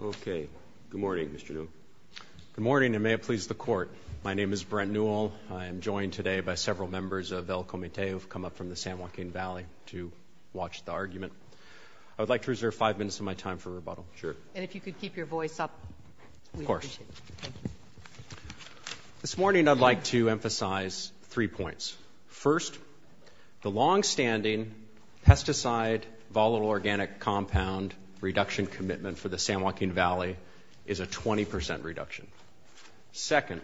Okay, good morning Mr. Newell. Good morning and may it please the court. My name is Brent Newell. I am joined today by several members of El Comite who have come up from the San Joaquin Valley to watch the argument. I would like to reserve five minutes of my time for rebuttal. Sure. And if you could keep your voice up. Of course. This morning I'd like to emphasize three points. First, the long-standing pesticide volatile organic compound reduction commitment for the San Joaquin Valley is a 20% reduction. Second,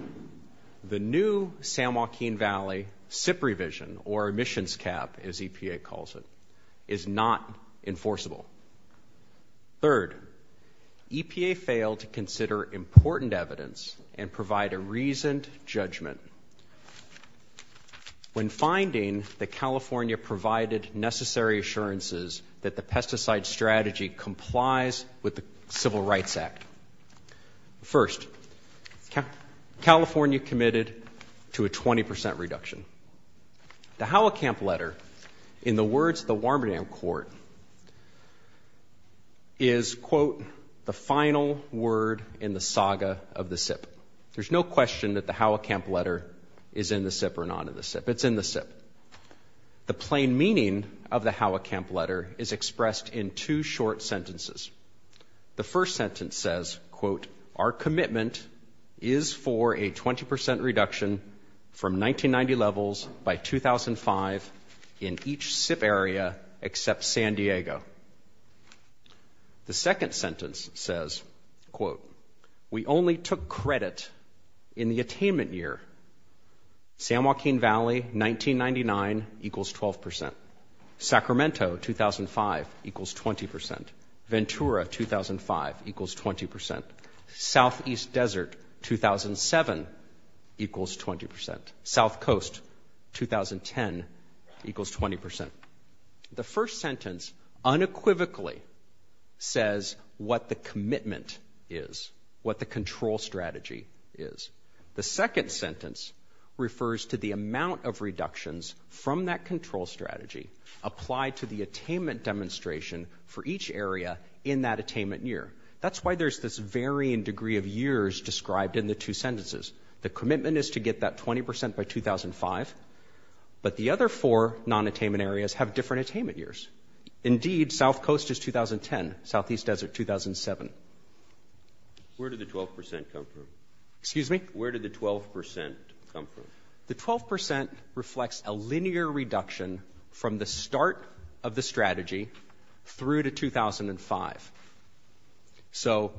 the new San Joaquin Valley SIP revision or emissions cap as EPA calls it, is not enforceable. Third, EPA failed to consider important evidence and provide a reasoned judgment. When finding that California provided necessary assurances that the pesticide strategy complies with the Civil Rights Act. First, California committed to a 20% reduction. The Howick Camp letter, in the words of the Warmerdam Court, is, quote, the final word in the saga of the SIP. There's no question that the Howick Camp letter is in the SIP or not in the SIP. It's in the SIP. The plain meaning of the Howick Camp letter is the first sentence says, quote, our commitment is for a 20% reduction from 1990 levels by 2005 in each SIP area except San Diego. The second sentence says, quote, we only took credit in the attainment year. San Joaquin Valley 1999 equals 12%. Sacramento 2005 equals 20%. Ventura 2005 equals 20%. Southeast Desert 2007 equals 20%. South Coast 2010 equals 20%. The first sentence unequivocally says what the commitment is, what the control strategy is. The second sentence refers to the amount of reductions from that control strategy applied to the attainment demonstration for each area in that attainment year. That's why there's this varying degree of years described in the two sentences. The commitment is to get that 20% by 2005, but the other four non-attainment areas have different attainment years. Indeed, South Coast is 2010, Southeast Desert 2007. Where did the 12% come from? Excuse me? Where did the 12% come from? The 12% reflects a linear reduction from the start of the strategy through to 2005. So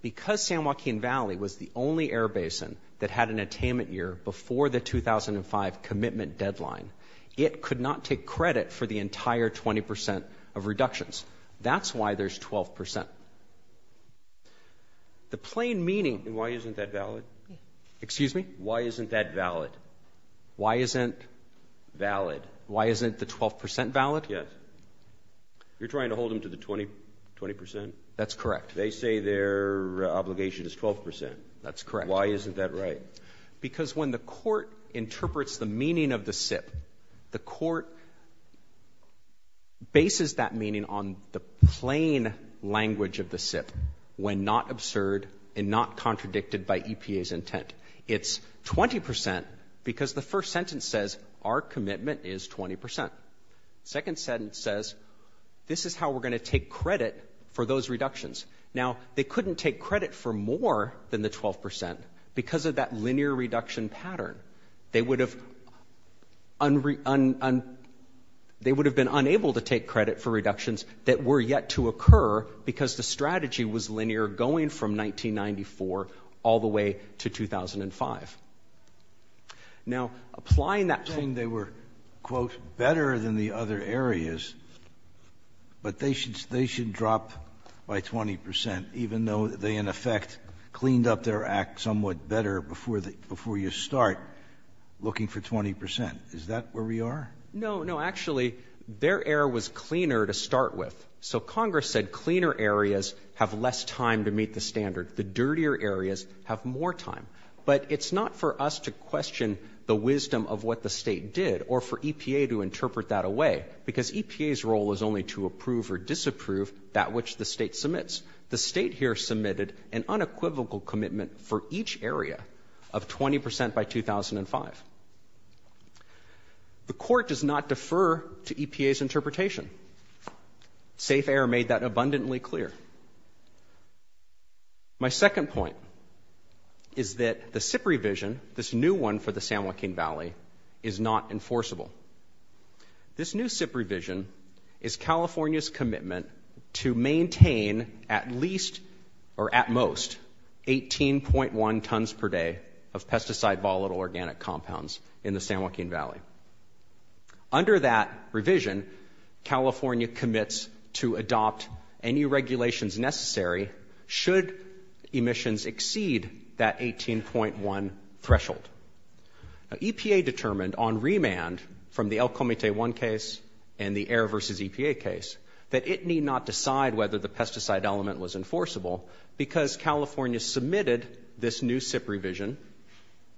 because San Joaquin Valley was the only air basin that had an attainment year before the 2005 commitment deadline, it could not take credit for the entire 20% of reductions. That's why there's 12%. The plain meaning... Why isn't that valid? Excuse me? Why isn't that valid? Why isn't... valid. Why isn't the 12% valid? Yes. You're trying to hold them to the 20%? That's correct. They say their obligation is 12%. That's correct. Why isn't that right? Because when the court misses that meaning on the plain language of the SIP, when not absurd and not contradicted by EPA's intent, it's 20% because the first sentence says our commitment is 20%. Second sentence says this is how we're going to take credit for those reductions. Now, they couldn't take credit for more than the 12% because of that linear reduction pattern. They would have... they would have been unable to take credit for reductions that were yet to occur because the strategy was linear going from 1994 all the way to 2005. Now, applying that... You're saying they were, quote, better than the other areas, but they should they should drop by 20% even though they, in effect, cleaned up their act somewhat better before you start looking for 20%. Is that where we are? No, no. Actually, their error was cleaner to start with. So Congress said cleaner areas have less time to meet the standard. The dirtier areas have more time. But it's not for us to question the wisdom of what the state did or for EPA to interpret that away because EPA's role is only to approve or disapprove that which the state submits. The state here submitted an unequivocal commitment for each area of 20% by 2005. The court does not defer to EPA's interpretation. Safe Air made that abundantly clear. My second point is that the SIP revision, this new one for the San Joaquin Valley, is not enforceable. This new SIP revision is California's commitment to maintain at least or at least 18.1 tons per day of pesticide volatile organic compounds in the San Joaquin Valley. Under that revision, California commits to adopt any regulations necessary should emissions exceed that 18.1 threshold. EPA determined on remand from the El Comite 1 case and the Air versus EPA case that it need not decide whether the pesticide element was enforceable because California submitted this new SIP revision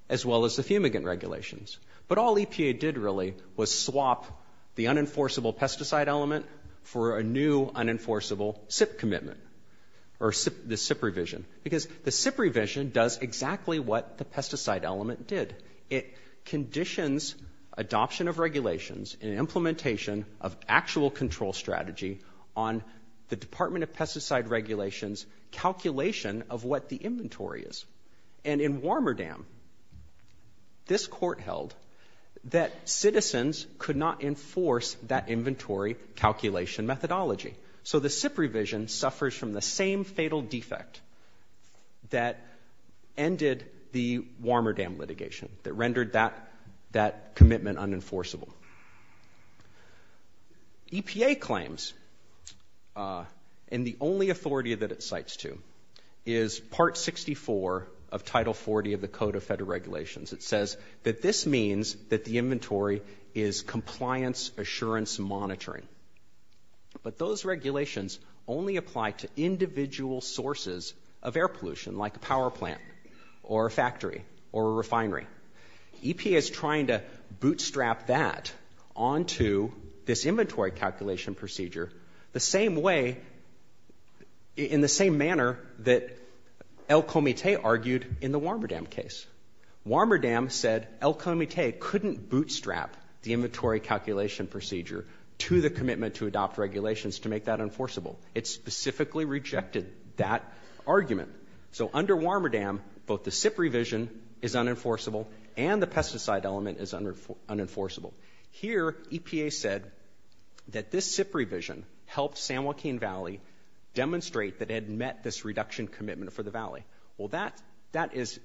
as well as the fumigant regulations. But all EPA did really was swap the unenforceable pesticide element for a new unenforceable SIP commitment or the SIP revision because the SIP revision does exactly what the pesticide element did. It conditions adoption of regulations and implementation of actual control strategy on the Department of what the inventory is. And in Warmerdam, this court held that citizens could not enforce that inventory calculation methodology. So the SIP revision suffers from the same fatal defect that ended the Warmerdam litigation that rendered that commitment unenforceable. EPA claims, and the only authority that it is part 64 of Title 40 of the Code of Federal Regulations, it says that this means that the inventory is compliance assurance monitoring. But those regulations only apply to individual sources of air pollution like a power plant or a factory or a refinery. EPA is trying to bootstrap that onto this El Comite argued in the Warmerdam case. Warmerdam said El Comite couldn't bootstrap the inventory calculation procedure to the commitment to adopt regulations to make that unenforceable. It specifically rejected that argument. So under Warmerdam, both the SIP revision is unenforceable and the pesticide element is unenforceable. Here, EPA said that this SIP revision helped San Juan get a commitment for the valley. Well, that is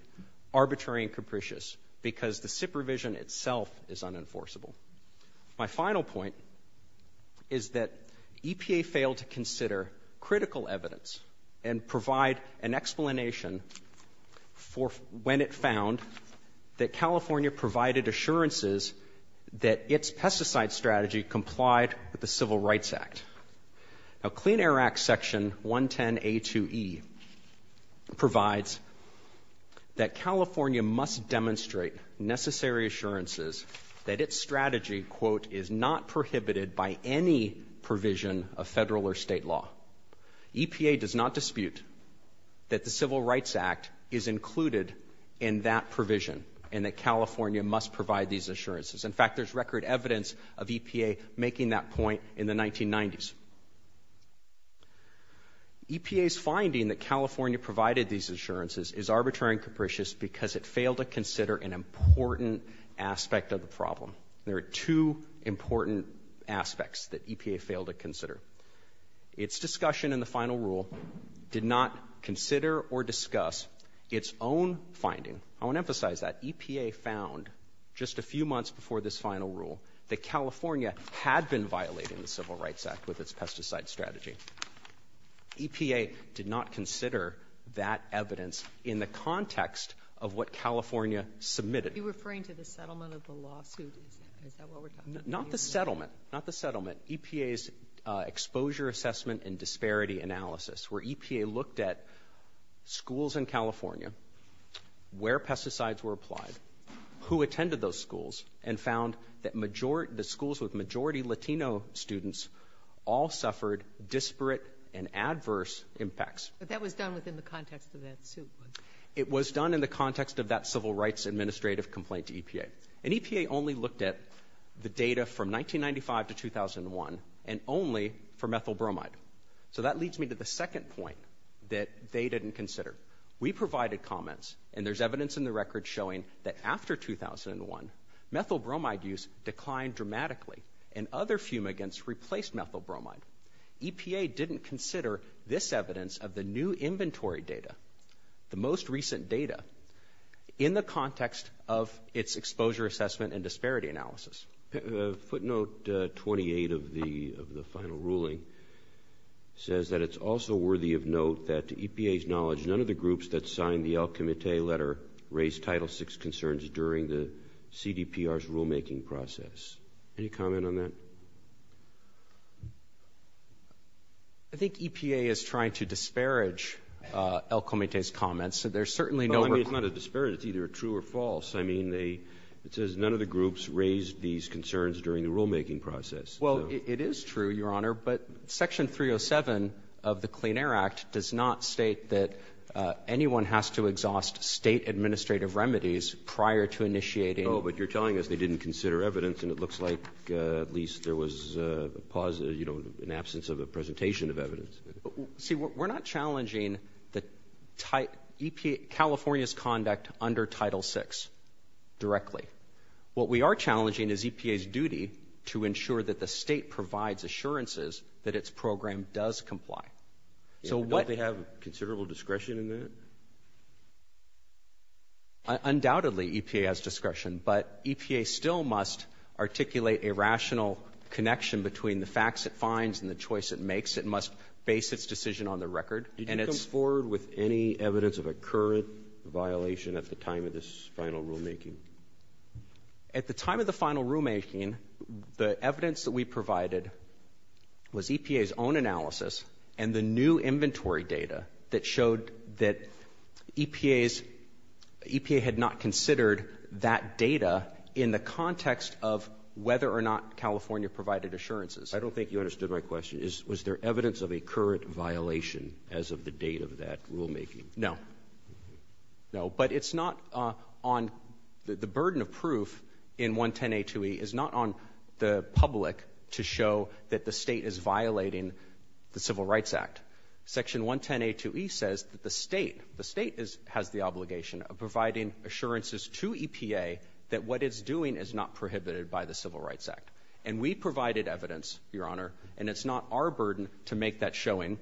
arbitrary and capricious because the SIP revision itself is unenforceable. My final point is that EPA failed to consider critical evidence and provide an explanation for when it found that California provided assurances that its pesticide strategy complied with provides that California must demonstrate necessary assurances that its strategy, quote, is not prohibited by any provision of federal or state law. EPA does not dispute that the Civil Rights Act is included in that provision and that California must provide these assurances. In fact, there's record evidence of EPA making that point in the 1990s. EPA's finding that California provided these assurances is arbitrary and capricious because it failed to consider an important aspect of the problem. There are two important aspects that EPA failed to consider. Its discussion in the final rule did not consider or discuss its own finding. I want to emphasize that EPA found just a few months before this final rule that California had been violating the Civil Rights Act's pesticide strategy. EPA did not consider that evidence in the context of what California submitted. Are you referring to the settlement of the lawsuit? Not the settlement, not the settlement. EPA's exposure assessment and disparity analysis where EPA looked at schools in California where pesticides were applied, who attended those schools, and found that the schools with majority Latino students all suffered disparate and adverse impacts. But that was done within the context of that suit? It was done in the context of that civil rights administrative complaint to EPA. And EPA only looked at the data from 1995 to 2001 and only for methyl bromide. So that leads me to the second point that they didn't consider. We provided comments and there's evidence in the record showing that after 2001, methyl bromide use declined dramatically and other fumigants replaced methyl bromide. EPA didn't consider this evidence of the new inventory data, the most recent data, in the context of its exposure assessment and disparity analysis. Footnote 28 of the final ruling says that it's also worthy of note that EPA's knowledge none of the groups that signed the El Comité's rulemaking process. Any comment on that? I think EPA is trying to disparage El Comité's comments, so there's certainly no... It's not a disparage, it's either true or false. I mean, it says none of the groups raised these concerns during the rulemaking process. Well, it is true, Your Honor, but Section 307 of the Clean Air Act does not state that anyone has to exhaust state administrative remedies prior to initiating... Oh, but you're telling us they didn't consider evidence and it looks like at least there was a pause, you know, an absence of a presentation of evidence. See, we're not challenging California's conduct under Title 6 directly. What we are challenging is EPA's duty to ensure that the state provides assurances that its program does comply. So what... Don't they have considerable discretion in that? Undoubtedly, EPA has discretion, but EPA still must articulate a rational connection between the facts it finds and the choice it makes. It must base its decision on the record and it's... Did you come forward with any evidence of a current violation at the time of this final rulemaking? At the time of the final rulemaking, the evidence that we provided was EPA's own analysis and the new inventory data that showed that EPA had not considered that data in the context of whether or not California provided assurances. I don't think you understood my question. Was there evidence of a current violation as of the date of that rulemaking? No. No, but it's not on... The burden of proof in Section 110A2E is not on the public to show that the state is violating the Civil Rights Act. Section 110A2E says that the state, the state has the obligation of providing assurances to EPA that what it's doing is not prohibited by the Civil Rights Act. And we provided evidence, Your Honor, and it's not our burden to make that showing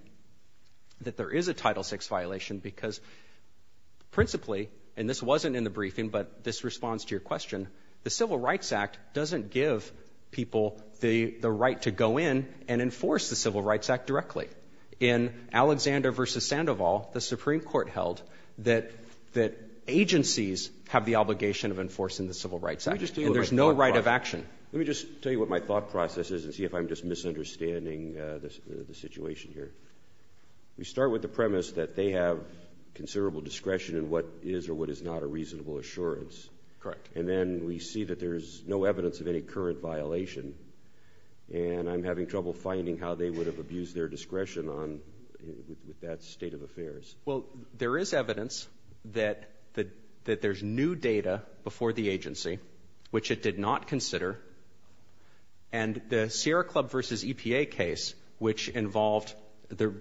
that there is a Title 6 violation because principally, and this wasn't in the briefing, but this responds to your question, the Civil Rights Act doesn't give people the the right to go in and enforce the Civil Rights Act directly. In Alexander v. Sandoval, the Supreme Court held that agencies have the obligation of enforcing the Civil Rights Act. There's no right of action. Let me just tell you what my thought process is and see if I'm just misunderstanding the situation here. We start with the premise that they have considerable discretion in what is or what is not a reasonable assurance. Correct. And then we see that there's no evidence of any current violation and I'm having trouble finding how they would have abused their discretion on that state of affairs. Well, there is evidence that there's new data before the agency, which it did not consider, and the Sierra Club v. EPA case, which involved the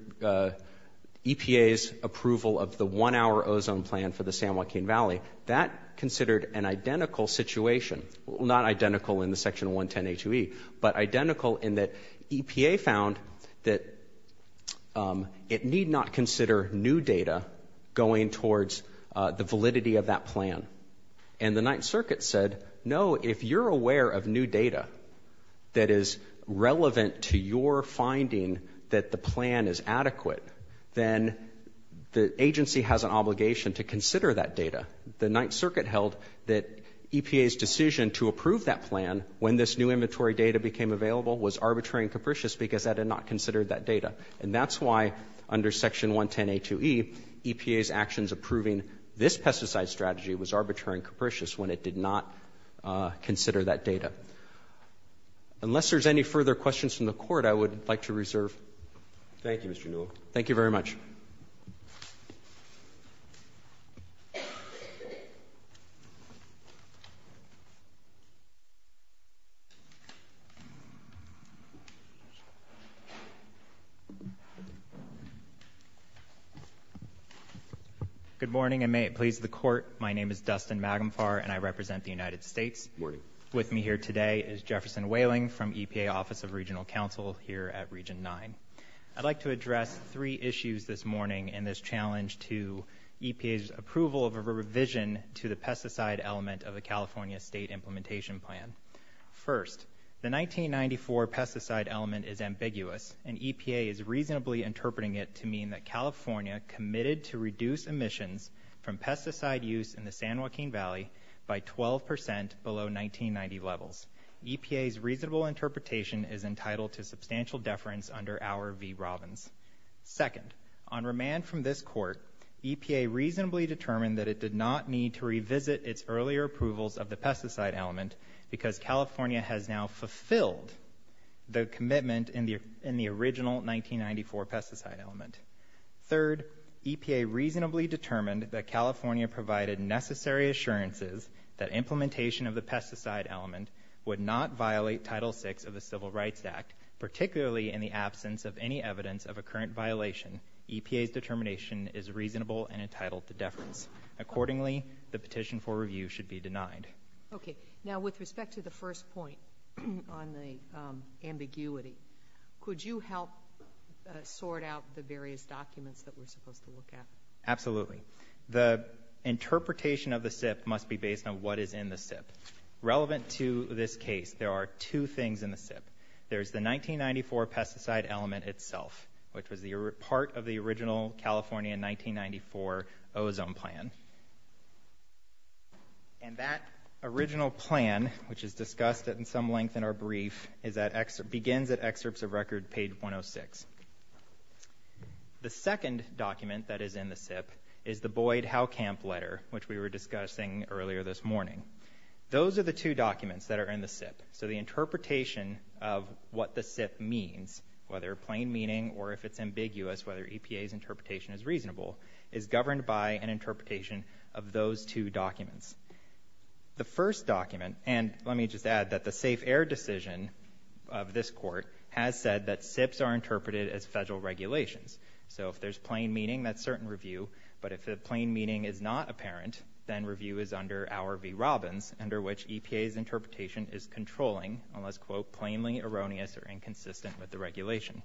EPA's approval of the one-hour ozone plan for the San Joaquin Valley, that considered an identical situation. Not identical in the Section 110A2E, but identical in that EPA found that it need not consider new data going towards the validity of that plan. And the Ninth Circuit said, no, if you're aware of new data that is has an obligation to consider that data. The Ninth Circuit held that EPA's decision to approve that plan when this new inventory data became available was arbitrary and capricious because that had not considered that data. And that's why under Section 110A2E, EPA's actions approving this pesticide strategy was arbitrary and capricious when it did not consider that data. Unless there's any further questions from the Court, I would like to reserve. Thank you, Mr. Newell. Thank you very much. Good morning, and may it please the Court, my name is Dustin Magumfar and I represent the United States. With me here today is Jefferson Whaling from EPA Office of Regional Counsel here at Region 9. I'd like to address three issues that have come to EPA's approval of a revision to the pesticide element of the California State Implementation Plan. First, the 1994 pesticide element is ambiguous and EPA is reasonably interpreting it to mean that California committed to reduce emissions from pesticide use in the San Joaquin Valley by 12% below 1990 levels. EPA's reasonable interpretation is entitled to Second, EPA reasonably determined that it did not need to revisit its earlier approvals of the pesticide element because California has now fulfilled the commitment in the original 1994 pesticide element. Third, EPA reasonably determined that California provided necessary assurances that implementation of the pesticide element would not violate Title VI of the Civil Rights Act, particularly in the absence of any evidence of a current violation. EPA's reasonable and entitled to deference. Accordingly, the petition for review should be denied. Okay, now with respect to the first point on the ambiguity, could you help sort out the various documents that we're supposed to look at? Absolutely. The interpretation of the SIP must be based on what is in the SIP. Relevant to this case, there are two things in the SIP. There's the 1994 ozone plan, and that original plan, which is discussed in some length in our brief, begins at excerpts of record page 106. The second document that is in the SIP is the Boyd-Houkamp letter, which we were discussing earlier this morning. Those are the two documents that are in the SIP. So the interpretation of what the SIP means, whether plain meaning or if it's ambiguous, whether EPA's reasonable, is governed by an interpretation of those two documents. The first document, and let me just add that the safe air decision of this court has said that SIPs are interpreted as federal regulations. So if there's plain meaning, that's certain review, but if the plain meaning is not apparent, then review is under our V. Robbins, under which EPA's interpretation is controlling, unless quote, plainly erroneous or inconsistent with the regulation.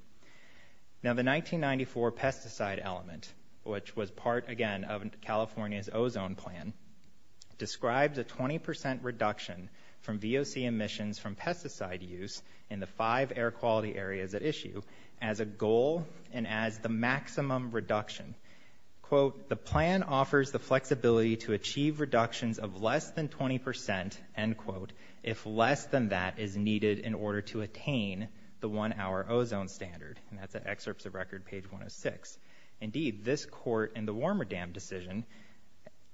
Now the 1994 pesticide element, which was part again of California's ozone plan, describes a 20% reduction from VOC emissions from pesticide use in the five air quality areas at issue as a goal and as the maximum reduction. Quote, the plan offers the flexibility to achieve reductions of less than 20%, end quote, if less than that is needed in order to attain the one hour ozone standard. And that's at excerpts of record page 106. Indeed, this court in the Warmer Dam decision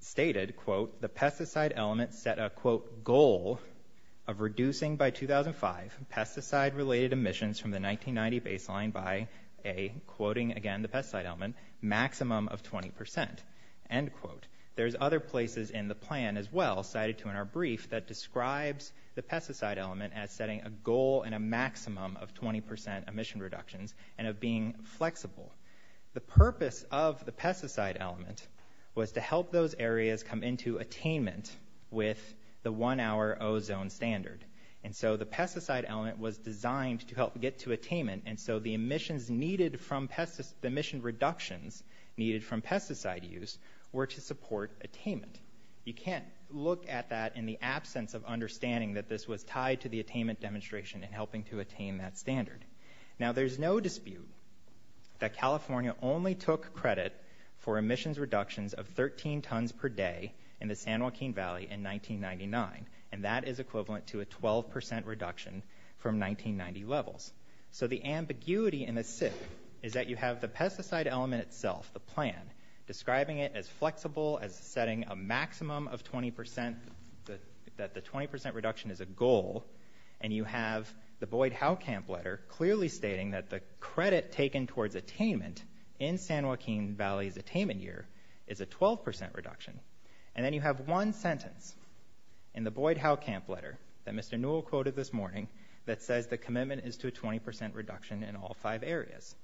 stated, quote, the pesticide element set a, quote, goal of reducing by 2005 pesticide related emissions from the 1990 baseline by a, quoting again the pesticide element, maximum of 20%, end quote. There's other places in the plan as well cited to in our brief that describes the pesticide element as setting a goal and a maximum of 20% emission reductions and of being flexible. The purpose of the pesticide element was to help those areas come into attainment with the one hour ozone standard. And so the pesticide element was designed to help get to attainment, and so the emissions needed from pesticide, the emission reductions needed from pesticide use were to support attainment. You can't look at that in the absence of understanding that this was tied to the attainment demonstration and helping to attain that standard. Now there's no dispute that California only took credit for emissions reductions of 13 tons per day in the San Joaquin Valley in 1999, and that is equivalent to a 12% reduction from 1990 levels. So the ambiguity in the SIP is that you have the pesticide element itself, the plan, describing it as flexible, as setting a maximum of 20%, that the 20% reduction is a goal, and you have the Boyd Howe Camp letter clearly stating that the credit taken towards attainment in San Joaquin Valley's attainment year is a 12% reduction. And then you have one sentence in the Boyd Howe Camp letter that Mr. Newell quoted this morning that says the commitment is to a 20% reduction in all five areas.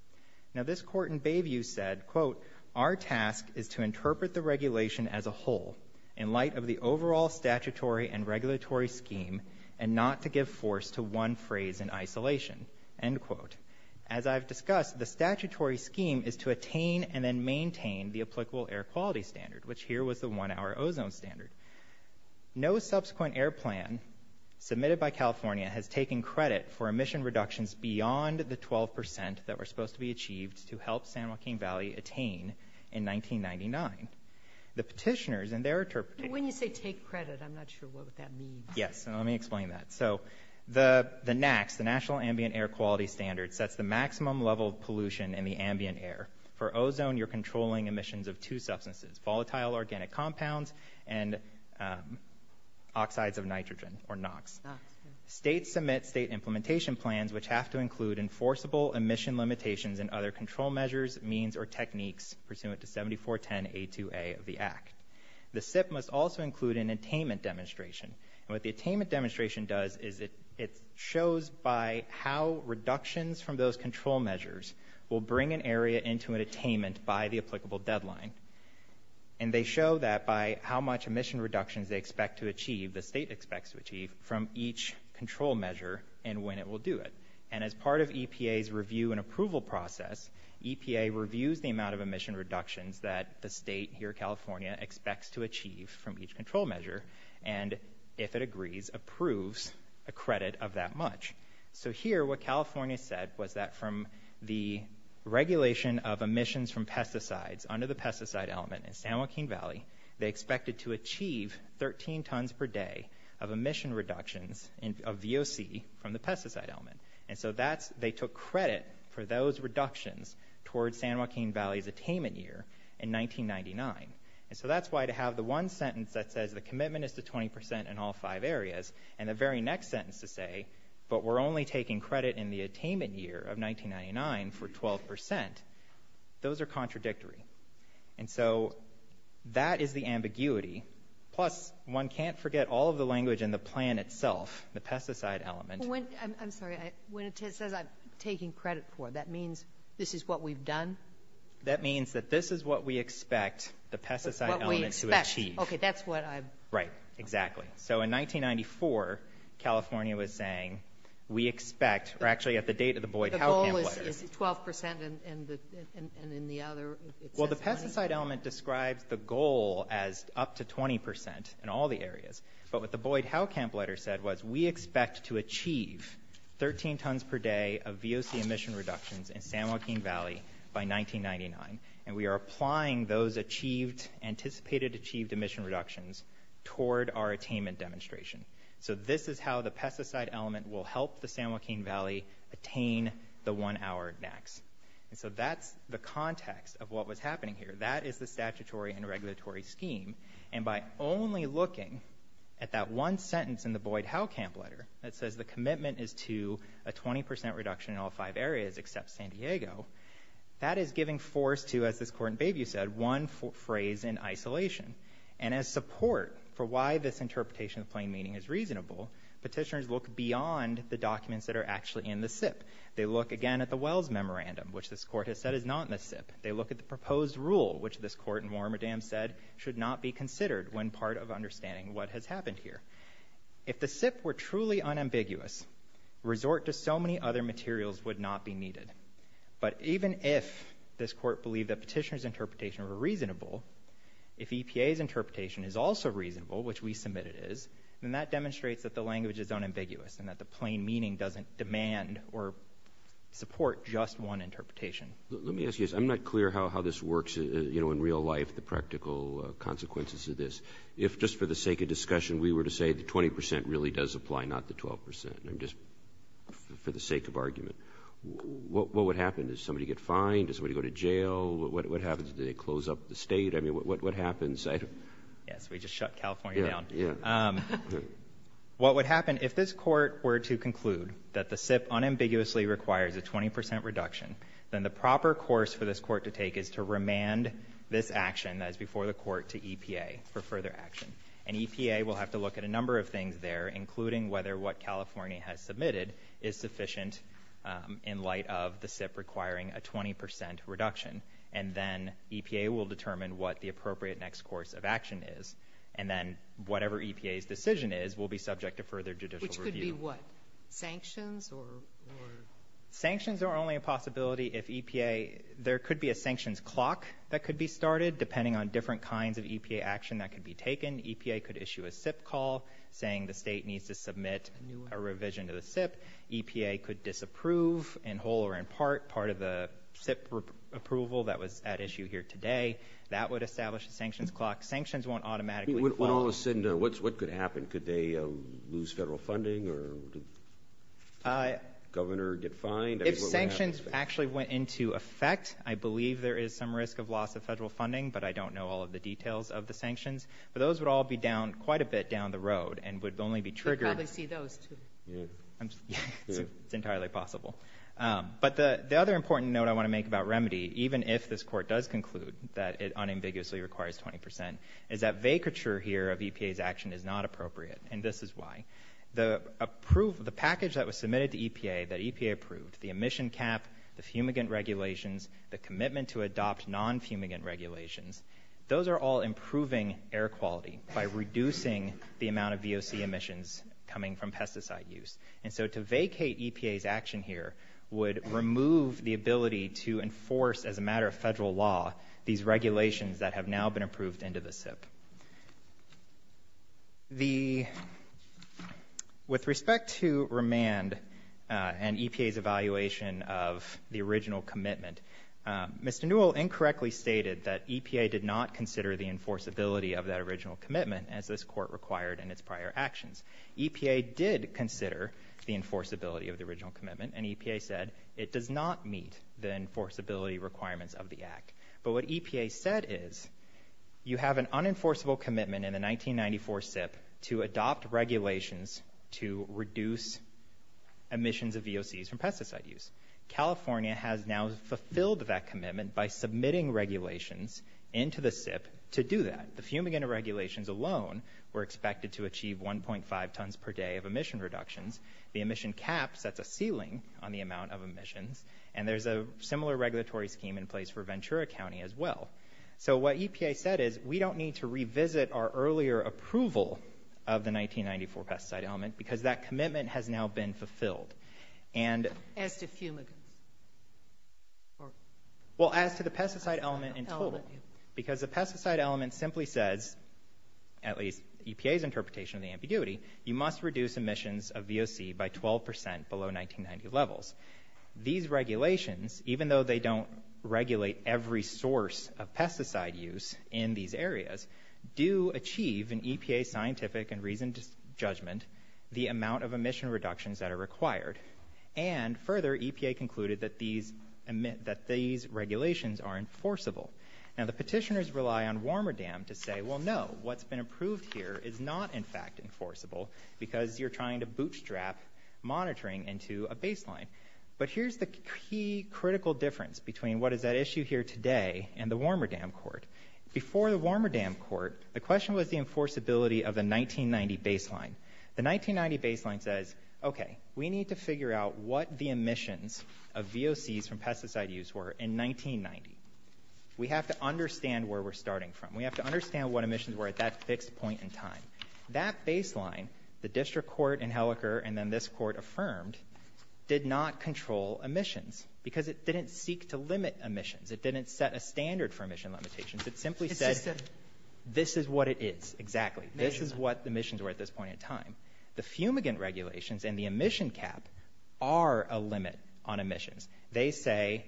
Now this court in Bayview said, quote, our task is to interpret the regulation as a whole in light of the overall statutory and regulatory scheme and not to give force to one phrase in isolation, end quote. As I've discussed, the statutory scheme is to attain and then maintain the applicable air quality standard, which here was the one-hour ozone standard. No subsequent air plan submitted by the state for emission reductions beyond the 12% that were supposed to be achieved to help San Joaquin Valley attain in 1999. The petitioners and their interpretation... When you say take credit, I'm not sure what that means. Yes, let me explain that. So the the NAAQS, the National Ambient Air Quality Standards, sets the maximum level of pollution in the ambient air. For ozone, you're controlling emissions of two substances, volatile organic compounds and oxides of nitrogen, or NOx. States submit state implementation plans which have to include enforceable emission limitations and other control measures, means or techniques pursuant to 7410A2A of the Act. The SIPP must also include an attainment demonstration. And what the attainment demonstration does is it shows by how reductions from those control measures will bring an area into an attainment by the applicable deadline. And they show that by how much emission reductions they expect from each control measure and when it will do it. And as part of EPA's review and approval process, EPA reviews the amount of emission reductions that the state here, California, expects to achieve from each control measure and, if it agrees, approves a credit of that much. So here, what California said was that from the regulation of emissions from pesticides under the pesticide element in San Joaquin Valley, they expected to achieve 13 tons per day of emission reductions of VOC from the pesticide element. And so that's, they took credit for those reductions towards San Joaquin Valley's attainment year in 1999. And so that's why to have the one sentence that says the commitment is to 20% in all five areas, and the very next sentence to say, but we're only taking credit in the attainment year of 1999 for 12%, those are contradictory. And so that is the in itself, the pesticide element. I'm sorry, when it says I'm taking credit for, that means this is what we've done? That means that this is what we expect the pesticide element to achieve. Okay, that's what I'm... Right, exactly. So in 1994, California was saying, we expect, or actually at the date of the Boyd-Houwkamp letter... The goal is 12% and in the other... Well, the pesticide element describes the was, we expect to achieve 13 tons per day of VOC emission reductions in San Joaquin Valley by 1999. And we are applying those achieved, anticipated achieved emission reductions toward our attainment demonstration. So this is how the pesticide element will help the San Joaquin Valley attain the one hour max. And so that's the context of what was happening here. That is the statutory and Boyd-Houwkamp letter that says the commitment is to a 20% reduction in all five areas except San Diego. That is giving force to, as this court in Bayview said, one phrase in isolation. And as support for why this interpretation of plain meaning is reasonable, petitioners look beyond the documents that are actually in the SIP. They look again at the Wells Memorandum, which this court has said is not in the SIP. They look at the proposed rule, which this court in Warmerdam said should not be considered when part of understanding what has happened. If the SIP were truly unambiguous, resort to so many other materials would not be needed. But even if this court believed that petitioners' interpretation were reasonable, if EPA's interpretation is also reasonable, which we submit it is, then that demonstrates that the language is unambiguous and that the plain meaning doesn't demand or support just one interpretation. Let me ask you this. I'm not clear how this works, you know, in real life, the practical consequences of this. If just for the sake of discussion we were to say the 20% really does apply, not the 12%, I'm just, for the sake of argument, what would happen? Does somebody get fined? Does somebody go to jail? What happens? Do they close up the state? I mean, what happens? Yes, we just shut California down. What would happen if this court were to conclude that the SIP unambiguously requires a 20% reduction, then the proper course for this court to take is to remand this action that is before the SIP. There are a number of things there, including whether what California has submitted is sufficient in light of the SIP requiring a 20% reduction, and then EPA will determine what the appropriate next course of action is, and then whatever EPA's decision is will be subject to further judicial review. Which could be what? Sanctions? Sanctions are only a possibility if EPA, there could be a sanctions clock that could be started, depending on different kinds of EPA action that could be taken. EPA could issue a SIP call saying the state needs to submit a revision to the SIP. EPA could disapprove, in whole or in part, part of the SIP approval that was at issue here today. That would establish a sanctions clock. Sanctions won't automatically... When all is said and done, what could happen? Could they lose federal funding, or the governor get fined? If sanctions actually went into effect, I believe there is some risk of loss of federal sanctions, but those would all be down quite a bit down the road, and would only be triggered... You'd probably see those, too. It's entirely possible. But the other important note I want to make about remedy, even if this court does conclude that it unambiguously requires 20%, is that vacature here of EPA's action is not appropriate, and this is why. The approved, the package that was submitted to EPA, that EPA approved, the emission cap, the fumigant regulations, the air quality, by reducing the amount of VOC emissions coming from pesticide use. And so to vacate EPA's action here would remove the ability to enforce, as a matter of federal law, these regulations that have now been approved into the SIP. With respect to remand and EPA's evaluation of the original commitment, Mr. Newell incorrectly stated that EPA did not consider the enforceability of that original commitment, as this court required in its prior actions. EPA did consider the enforceability of the original commitment, and EPA said it does not meet the enforceability requirements of the Act. But what EPA said is, you have an unenforceable commitment in the 1994 SIP to adopt regulations to reduce emissions of VOCs from pesticide use. California has now fulfilled that commitment by submitting regulations into the SIP to do that. The fumigant regulations alone were expected to achieve 1.5 tons per day of emission reductions. The emission cap sets a ceiling on the amount of emissions, and there's a similar regulatory scheme in place for Ventura County as well. So what EPA said is, we don't need to revisit our earlier approval of the 1994 pesticide element, because that commitment has now been fulfilled. And as to fumigants? Well, as to the pesticide element in total, because the pesticide element simply says, at least EPA's interpretation of the ambiguity, you must reduce emissions of VOC by 12% below 1990 levels. These regulations, even though they don't regulate every source of pesticide use in these areas, do achieve, in EPA's scientific and reasoned judgment, the amount of emission reductions that are required. And further, EPA concluded that these regulations are enforceable. Now, the petitioners rely on Warmerdam to say, well, no, what's been approved here is not, in fact, enforceable, because you're trying to bootstrap monitoring into a baseline. But here's the key critical difference between what is at issue here today and the Warmerdam Court. Before the enforceability of the 1990 baseline, the 1990 baseline says, okay, we need to figure out what the emissions of VOCs from pesticide use were in 1990. We have to understand where we're starting from. We have to understand what emissions were at that fixed point in time. That baseline, the district court in Helleker and then this court affirmed, did not control emissions, because it didn't seek to limit emissions. It didn't set a standard for emission limitations. It simply said, this is what it is, exactly. This is what the emissions were at this point in time. The fumigant regulations and the emission cap are a limit on emissions. They say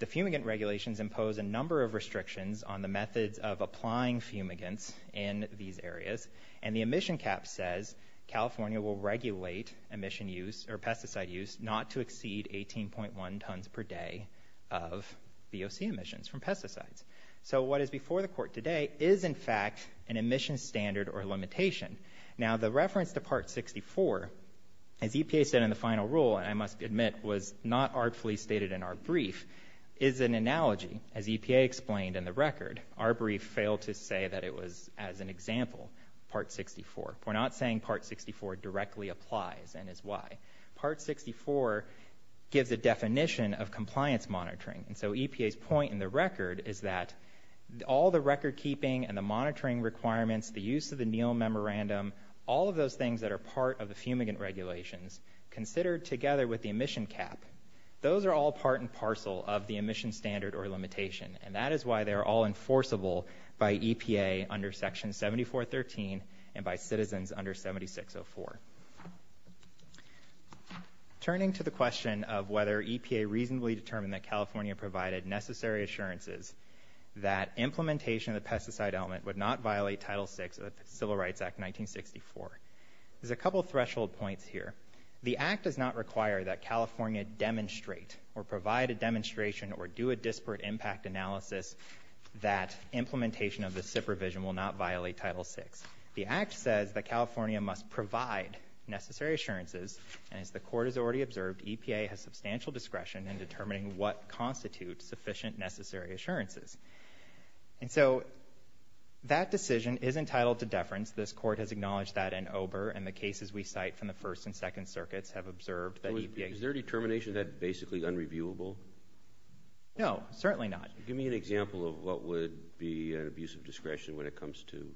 the fumigant regulations impose a number of restrictions on the methods of applying fumigants in these areas, and the emission cap says California will regulate emission use or pesticide use not to exceed 18.1 tons per day of VOC emissions from pesticides. So what is before the court today is, in fact, an emission standard or limitation. Now the reference to Part 64, as EPA said in the final rule, and I must admit was not artfully stated in our brief, is an analogy. As EPA explained in the record, our brief failed to say that it was, as an example, Part 64. We're not saying Part 64 directly applies and is why. Part 64 gives a definition of compliance monitoring, and so EPA's point in the record is that all the record-keeping and the monitoring requirements, the use of the Neal Memorandum, all of those things that are part of the fumigant regulations, considered together with the emission cap, those are all part and parcel of the emission standard or limitation, and that is why they're all enforceable by EPA under Section 7413 and by citizens under 7604. Turning to the question of whether EPA reasonably determined that California provided necessary assurances that implementation of the pesticide element would not violate Title 6 of the Civil Rights Act 1964, there's a couple threshold points here. The Act does not require that California demonstrate or provide a demonstration or do a disparate impact analysis that implementation of the SIP revision will not violate Title 6. The Act says that California must provide necessary assurances, and as the court has already observed, EPA has substantial discretion in determining what constitutes sufficient necessary assurances. And so that decision is entitled to deference. This court has acknowledged that in OBRA and the cases we cite from the First and Second Circuits have observed that EPA... Is their determination that basically unreviewable? No, certainly not. Give me an example of what would be an abuse of discretion when it comes to...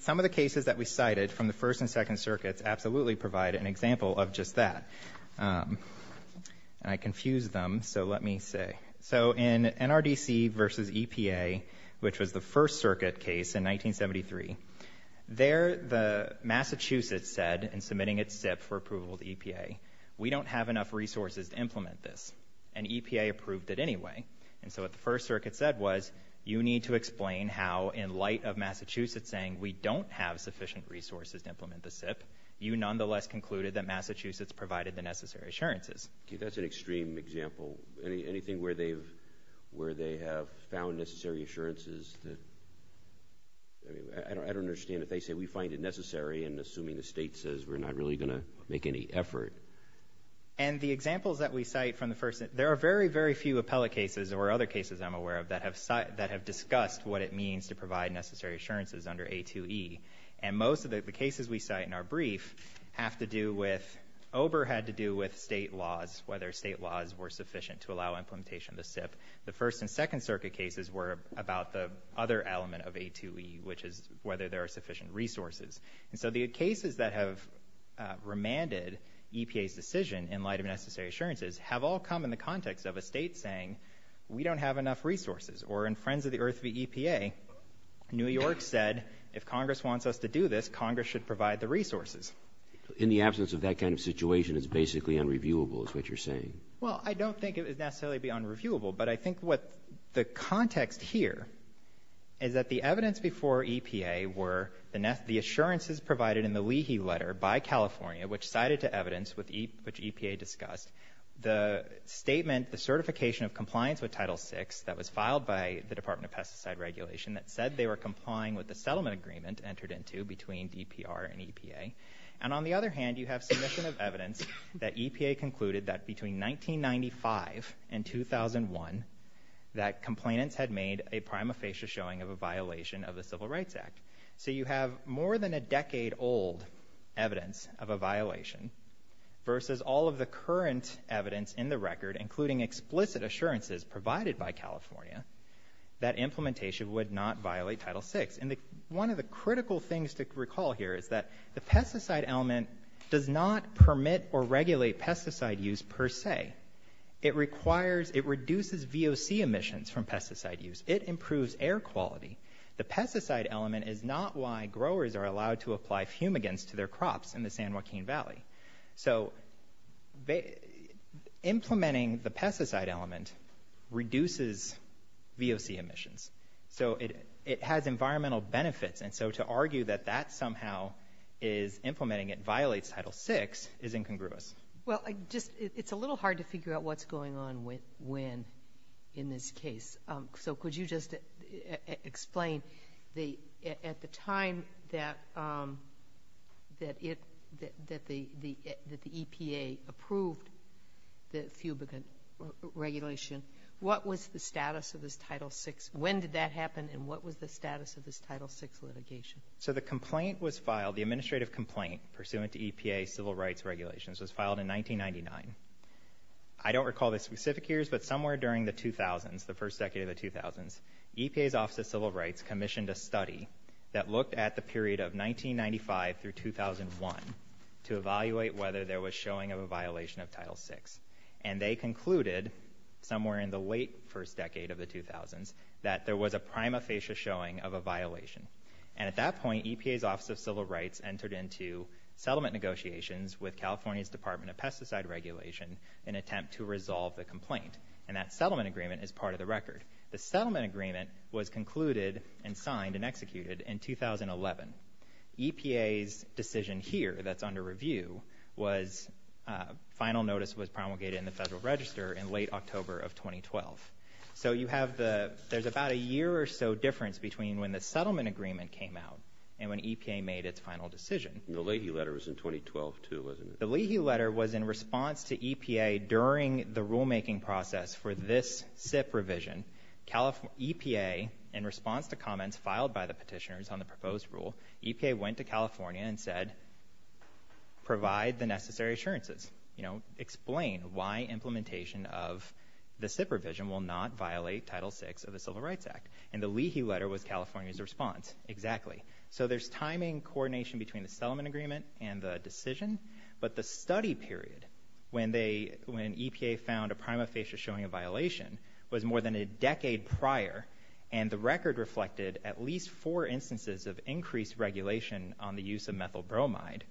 Some of the cases that we cited from the First and Second Circuits absolutely provide an example of just that. And I confused them, so let me say. So in NRDC versus EPA, which was the First Circuit case in 1973, there the Massachusetts said in submitting its SIP for approval to EPA, we don't have enough resources to implement this. And EPA approved it anyway. And so what the First Circuit said was, you need to explain how in light of Massachusetts saying we don't have enough resources, EPA nevertheless concluded that Massachusetts provided the necessary assurances. Okay, that's an extreme example. Anything where they've... where they have found necessary assurances that... I don't understand if they say we find it necessary and assuming the state says we're not really gonna make any effort. And the examples that we cite from the First... There are very, very few appellate cases, or other cases I'm aware of, that have discussed what it means to provide necessary assurances under A2E. And most of the cases we cite in our brief have to do with... over had to do with state laws, whether state laws were sufficient to allow implementation of the SIP. The First and Second Circuit cases were about the other element of A2E, which is whether there are sufficient resources. And so the cases that have remanded EPA's decision in light of necessary assurances have all come in the context of a state saying, we don't have enough resources. Or in Friends of the Earth v. should provide the resources. In the absence of that kind of situation, it's basically unreviewable, is what you're saying. Well, I don't think it would necessarily be unreviewable, but I think what the context here is that the evidence before EPA were the... the assurances provided in the Leahy letter by California, which cited to evidence with... which EPA discussed. The statement, the certification of compliance with Title VI, that was filed by the Department of Pesticide Regulation, that said they were complying with the EPR and EPA. And on the other hand, you have submission of evidence that EPA concluded that between 1995 and 2001, that complainants had made a prima facie showing of a violation of the Civil Rights Act. So you have more than a decade old evidence of a violation, versus all of the current evidence in the record, including explicit assurances provided by California, that implementation would not violate Title VI. And the... one of the critical things to recall here is that the pesticide element does not permit or regulate pesticide use per se. It requires... it reduces VOC emissions from pesticide use. It improves air quality. The pesticide element is not why growers are allowed to apply fumigants to their crops in the San Joaquin Valley. So they... implementing the pesticide element reduces VOC emissions. So it has environmental benefits. And so to argue that that somehow is implementing it, violates Title VI, is incongruous. Well, I just... it's a little hard to figure out what's going on with... when in this case. So could you just explain the... at the time that it... that the EPA approved the fumigant regulation, what was the status of this Title VI litigation? So the complaint was filed, the administrative complaint, pursuant to EPA civil rights regulations, was filed in 1999. I don't recall the specific years, but somewhere during the 2000s, the first decade of the 2000s, EPA's Office of Civil Rights commissioned a study that looked at the period of 1995 through 2001 to evaluate whether there was showing of a violation of Title VI. And they concluded, somewhere in the late first decade of the 2000s, that there was a prima facie showing of a violation. And at that point, EPA's Office of Civil Rights entered into settlement negotiations with California's Department of Pesticide Regulation in attempt to resolve the complaint. And that settlement agreement is part of the record. The settlement agreement was concluded and signed and executed in 2011. EPA's decision here, that's under review, was... final notice was promulgated in the Federal Register in late October of 2012. So you have the... there's about a year or so difference between when the settlement agreement came out and when EPA made its final decision. The Leahy letter was in 2012 too, wasn't it? The Leahy letter was in response to EPA during the rulemaking process for this SIP revision. EPA, in response to comments filed by the petitioners on the proposed rule, EPA went to California and said, provide the necessary assurances. You know, explain why implementation of the SIP revision will not violate Title 6 of the Civil Rights Act. And the Leahy letter was California's response. Exactly. So there's timing coordination between the settlement agreement and the decision, but the study period when they... when EPA found a prima facie showing a violation was more than a decade prior. And the record reflected at least four instances of increased regulation on the use of methyl bromide.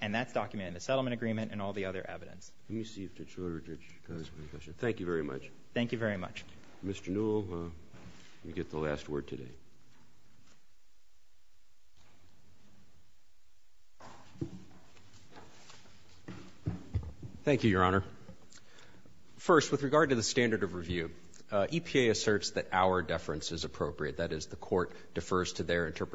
And that's what's documented in the settlement agreement and all the other evidence. Let me see if Judge Woodridge has any questions. Thank you very much. Thank you very much. Mr. Newell, you get the last word today. Thank you, Your Honor. First, with regard to the standard of review, EPA asserts that our deference is appropriate. That is, the court defers to their standard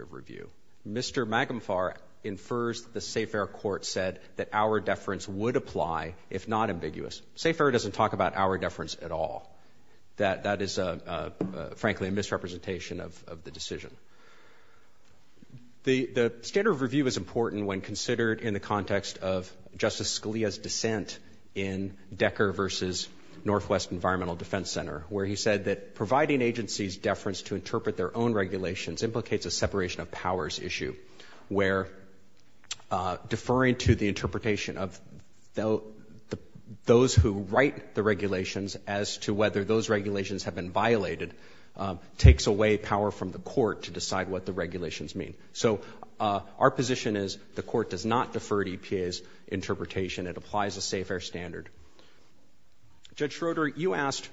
of review. Mr. Magumfar infers the SAFER court said that our deference would apply if not ambiguous. SAFER doesn't talk about our deference at all. That is, frankly, a misrepresentation of the decision. The standard of review is important when considered in the context of Justice Scalia's dissent in Decker versus Northwest Environmental Defense Center, where he said that providing agencies deference to interpret their own regulations implicates a separation of powers issue, where deferring to the interpretation of those who write the regulations as to whether those regulations have been violated takes away power from the court to decide what the regulations mean. So our position is the court does not defer to EPA's interpretation. It applies a SAFER standard. Judge Schroeder, you asked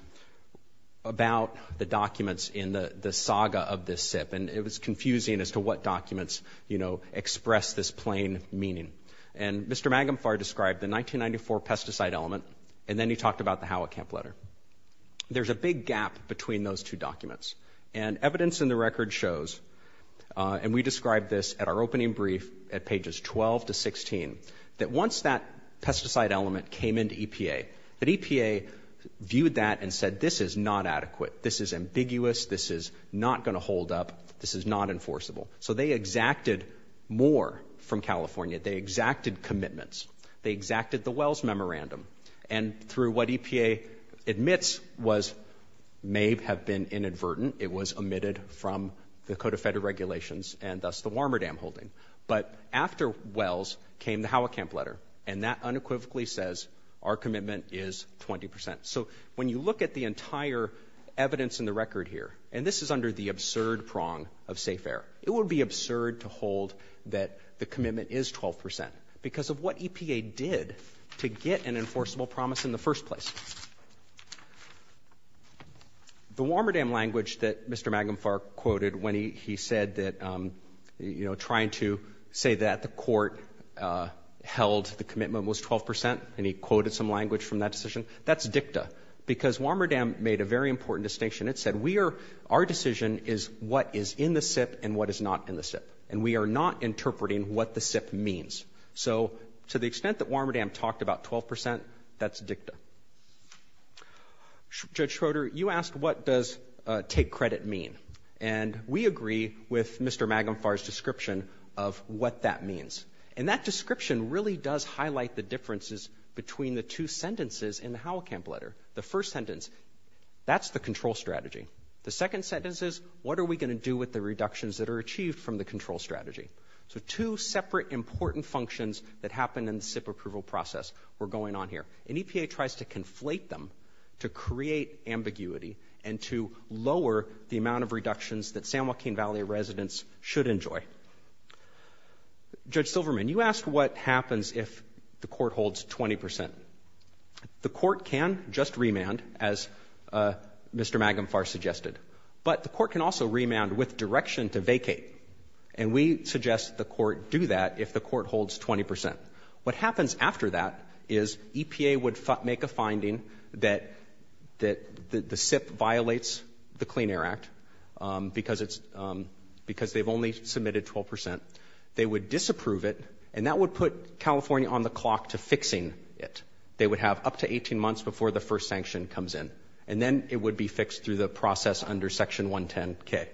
about the documents in the saga of this SIP, and it was confusing as to what documents, you know, express this plain meaning. And Mr. Magumfar described the 1994 pesticide element, and then he talked about the Howat Camp letter. There's a big gap between those two documents. And evidence in the record shows, and we described this at our opening brief at pages 12 to 16, that once that pesticide element came into EPA, that EPA viewed that and said, this is not adequate. This is ambiguous. This is not going to hold up. This is not enforceable. So they exacted more from California. They exacted commitments. They exacted the Wells memorandum. And through what EPA admits was, may have been inadvertent. It was omitted from the Code of Federal Regulations, and thus the Warmerdam holding. But after Wells came the Howat Camp letter, and that unequivocally says our commitment is 20%. So when you look at the entire evidence in the record here, and this is under the absurd prong of safe air, it would be absurd to hold that the commitment is 12% because of what EPA did to get an enforceable promise in the first place. The Warmerdam language that Mr. Magumfar quoted when he said that, you know, trying to say that the court held the commitment was 12%, and he quoted some language from that decision, that's dicta. Because Warmerdam made a very important distinction. It said we are, our decision is what is in the SIP and what is not in the SIP. And we are not interpreting what the SIP means. So to the extent that Warmerdam talked about 12%, that's dicta. Judge Schroeder, you asked what does take credit mean. And we agree with Mr. Magumfar's description of what that means. And that description really does highlight the differences between the two sentences in the Howell-Camp letter. The first sentence, that's the control strategy. The second sentence is, what are we going to do with the reductions that are achieved from the control strategy? So two separate important functions that happen in the SIP approval process were going on here. And EPA tries to conflate them to create ambiguity and to lower the amount of reductions that San Joaquin Valley residents should enjoy. Judge Silverman, you asked what happens if the court holds 20%. The court can just remand, as Mr. Magumfar suggested. But the court can also remand with direction to vacate. And we suggest the court do that if the court holds 20%. What happens after that is EPA would make a finding that the SIP violates the Clean Air Act because it's, because they've only submitted 12%. They would disapprove it and that would put California on the clock to fixing it. They would have up to 18 months before the first sanction comes in. And then it would be fixed through the process under Section 110-K.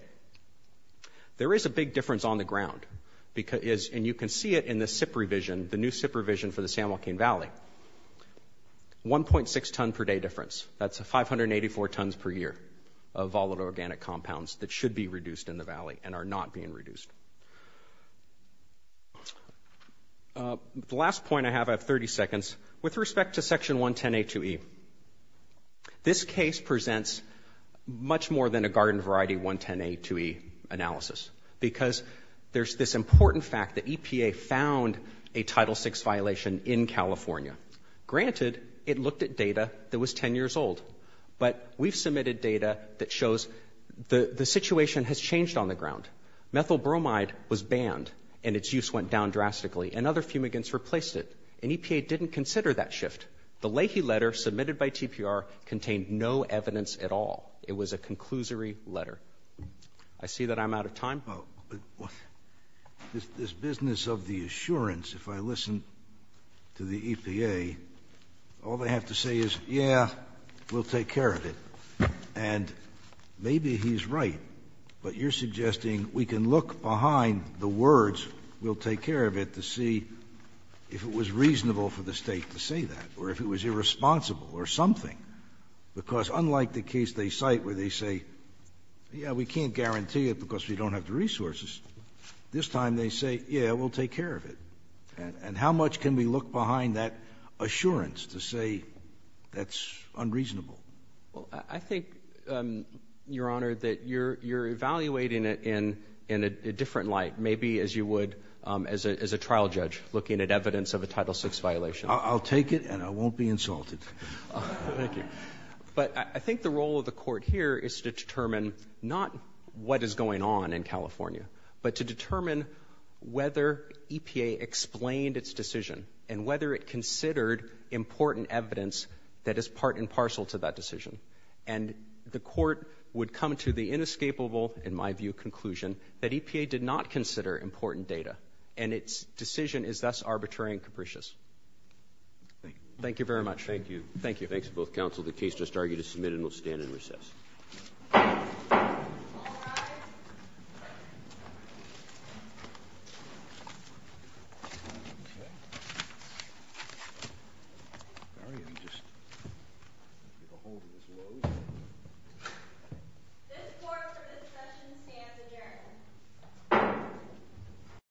There is a big difference on the ground because, and you can see it in the SIP revision, the new SIP revision for the San Joaquin Valley. 1.6 ton per day difference. That's 584 tons per year of volatile organic compounds that should be reduced in the valley and are not being reduced. The last point I have, I have 30 seconds, with respect to Section 110-A-2E. This case presents much more than a garden variety 110-A-2E analysis because there's this important fact that EPA found a Title VI violation in California. Granted, it looked at data that shows the situation has changed on the ground. Methyl bromide was banned and its use went down drastically. And other fumigants replaced it. And EPA didn't consider that shift. The Leahy letter submitted by TPR contained no evidence at all. It was a conclusory letter. I see that I'm out of time. JUSTICE SCALIA This business of the assurance, if I listen to the EPA, all they have to say is, yeah, we'll take care of it. And maybe he's right, but you're suggesting we can look behind the words, we'll take care of it, to see if it was reasonable for the State to say that or if it was irresponsible or something. Because unlike the case they cite where they say, yeah, we can't guarantee it because we don't have the resources, this time they say, yeah, we'll take care of it. And how much can we look behind that assurance to say that's unreasonable? MR. GARRETT I think, Your Honor, that you're evaluating it in a different light, maybe as you would as a trial judge looking at evidence of a Title VI violation. JUSTICE SCALIA I'll take it and I won't be insulted. MR. GARRETT Thank you. But I think the role of the Court here is to determine not what is going on in California, but to determine whether EPA explained its decision and whether it considered important evidence that is part and parcel to that decision. And the Court would come to the inescapable, in my view, conclusion that EPA did not consider important data and its decision is thus arbitrary and capricious. Thank you very much. MR. GARRETT Thank you, Your Honor.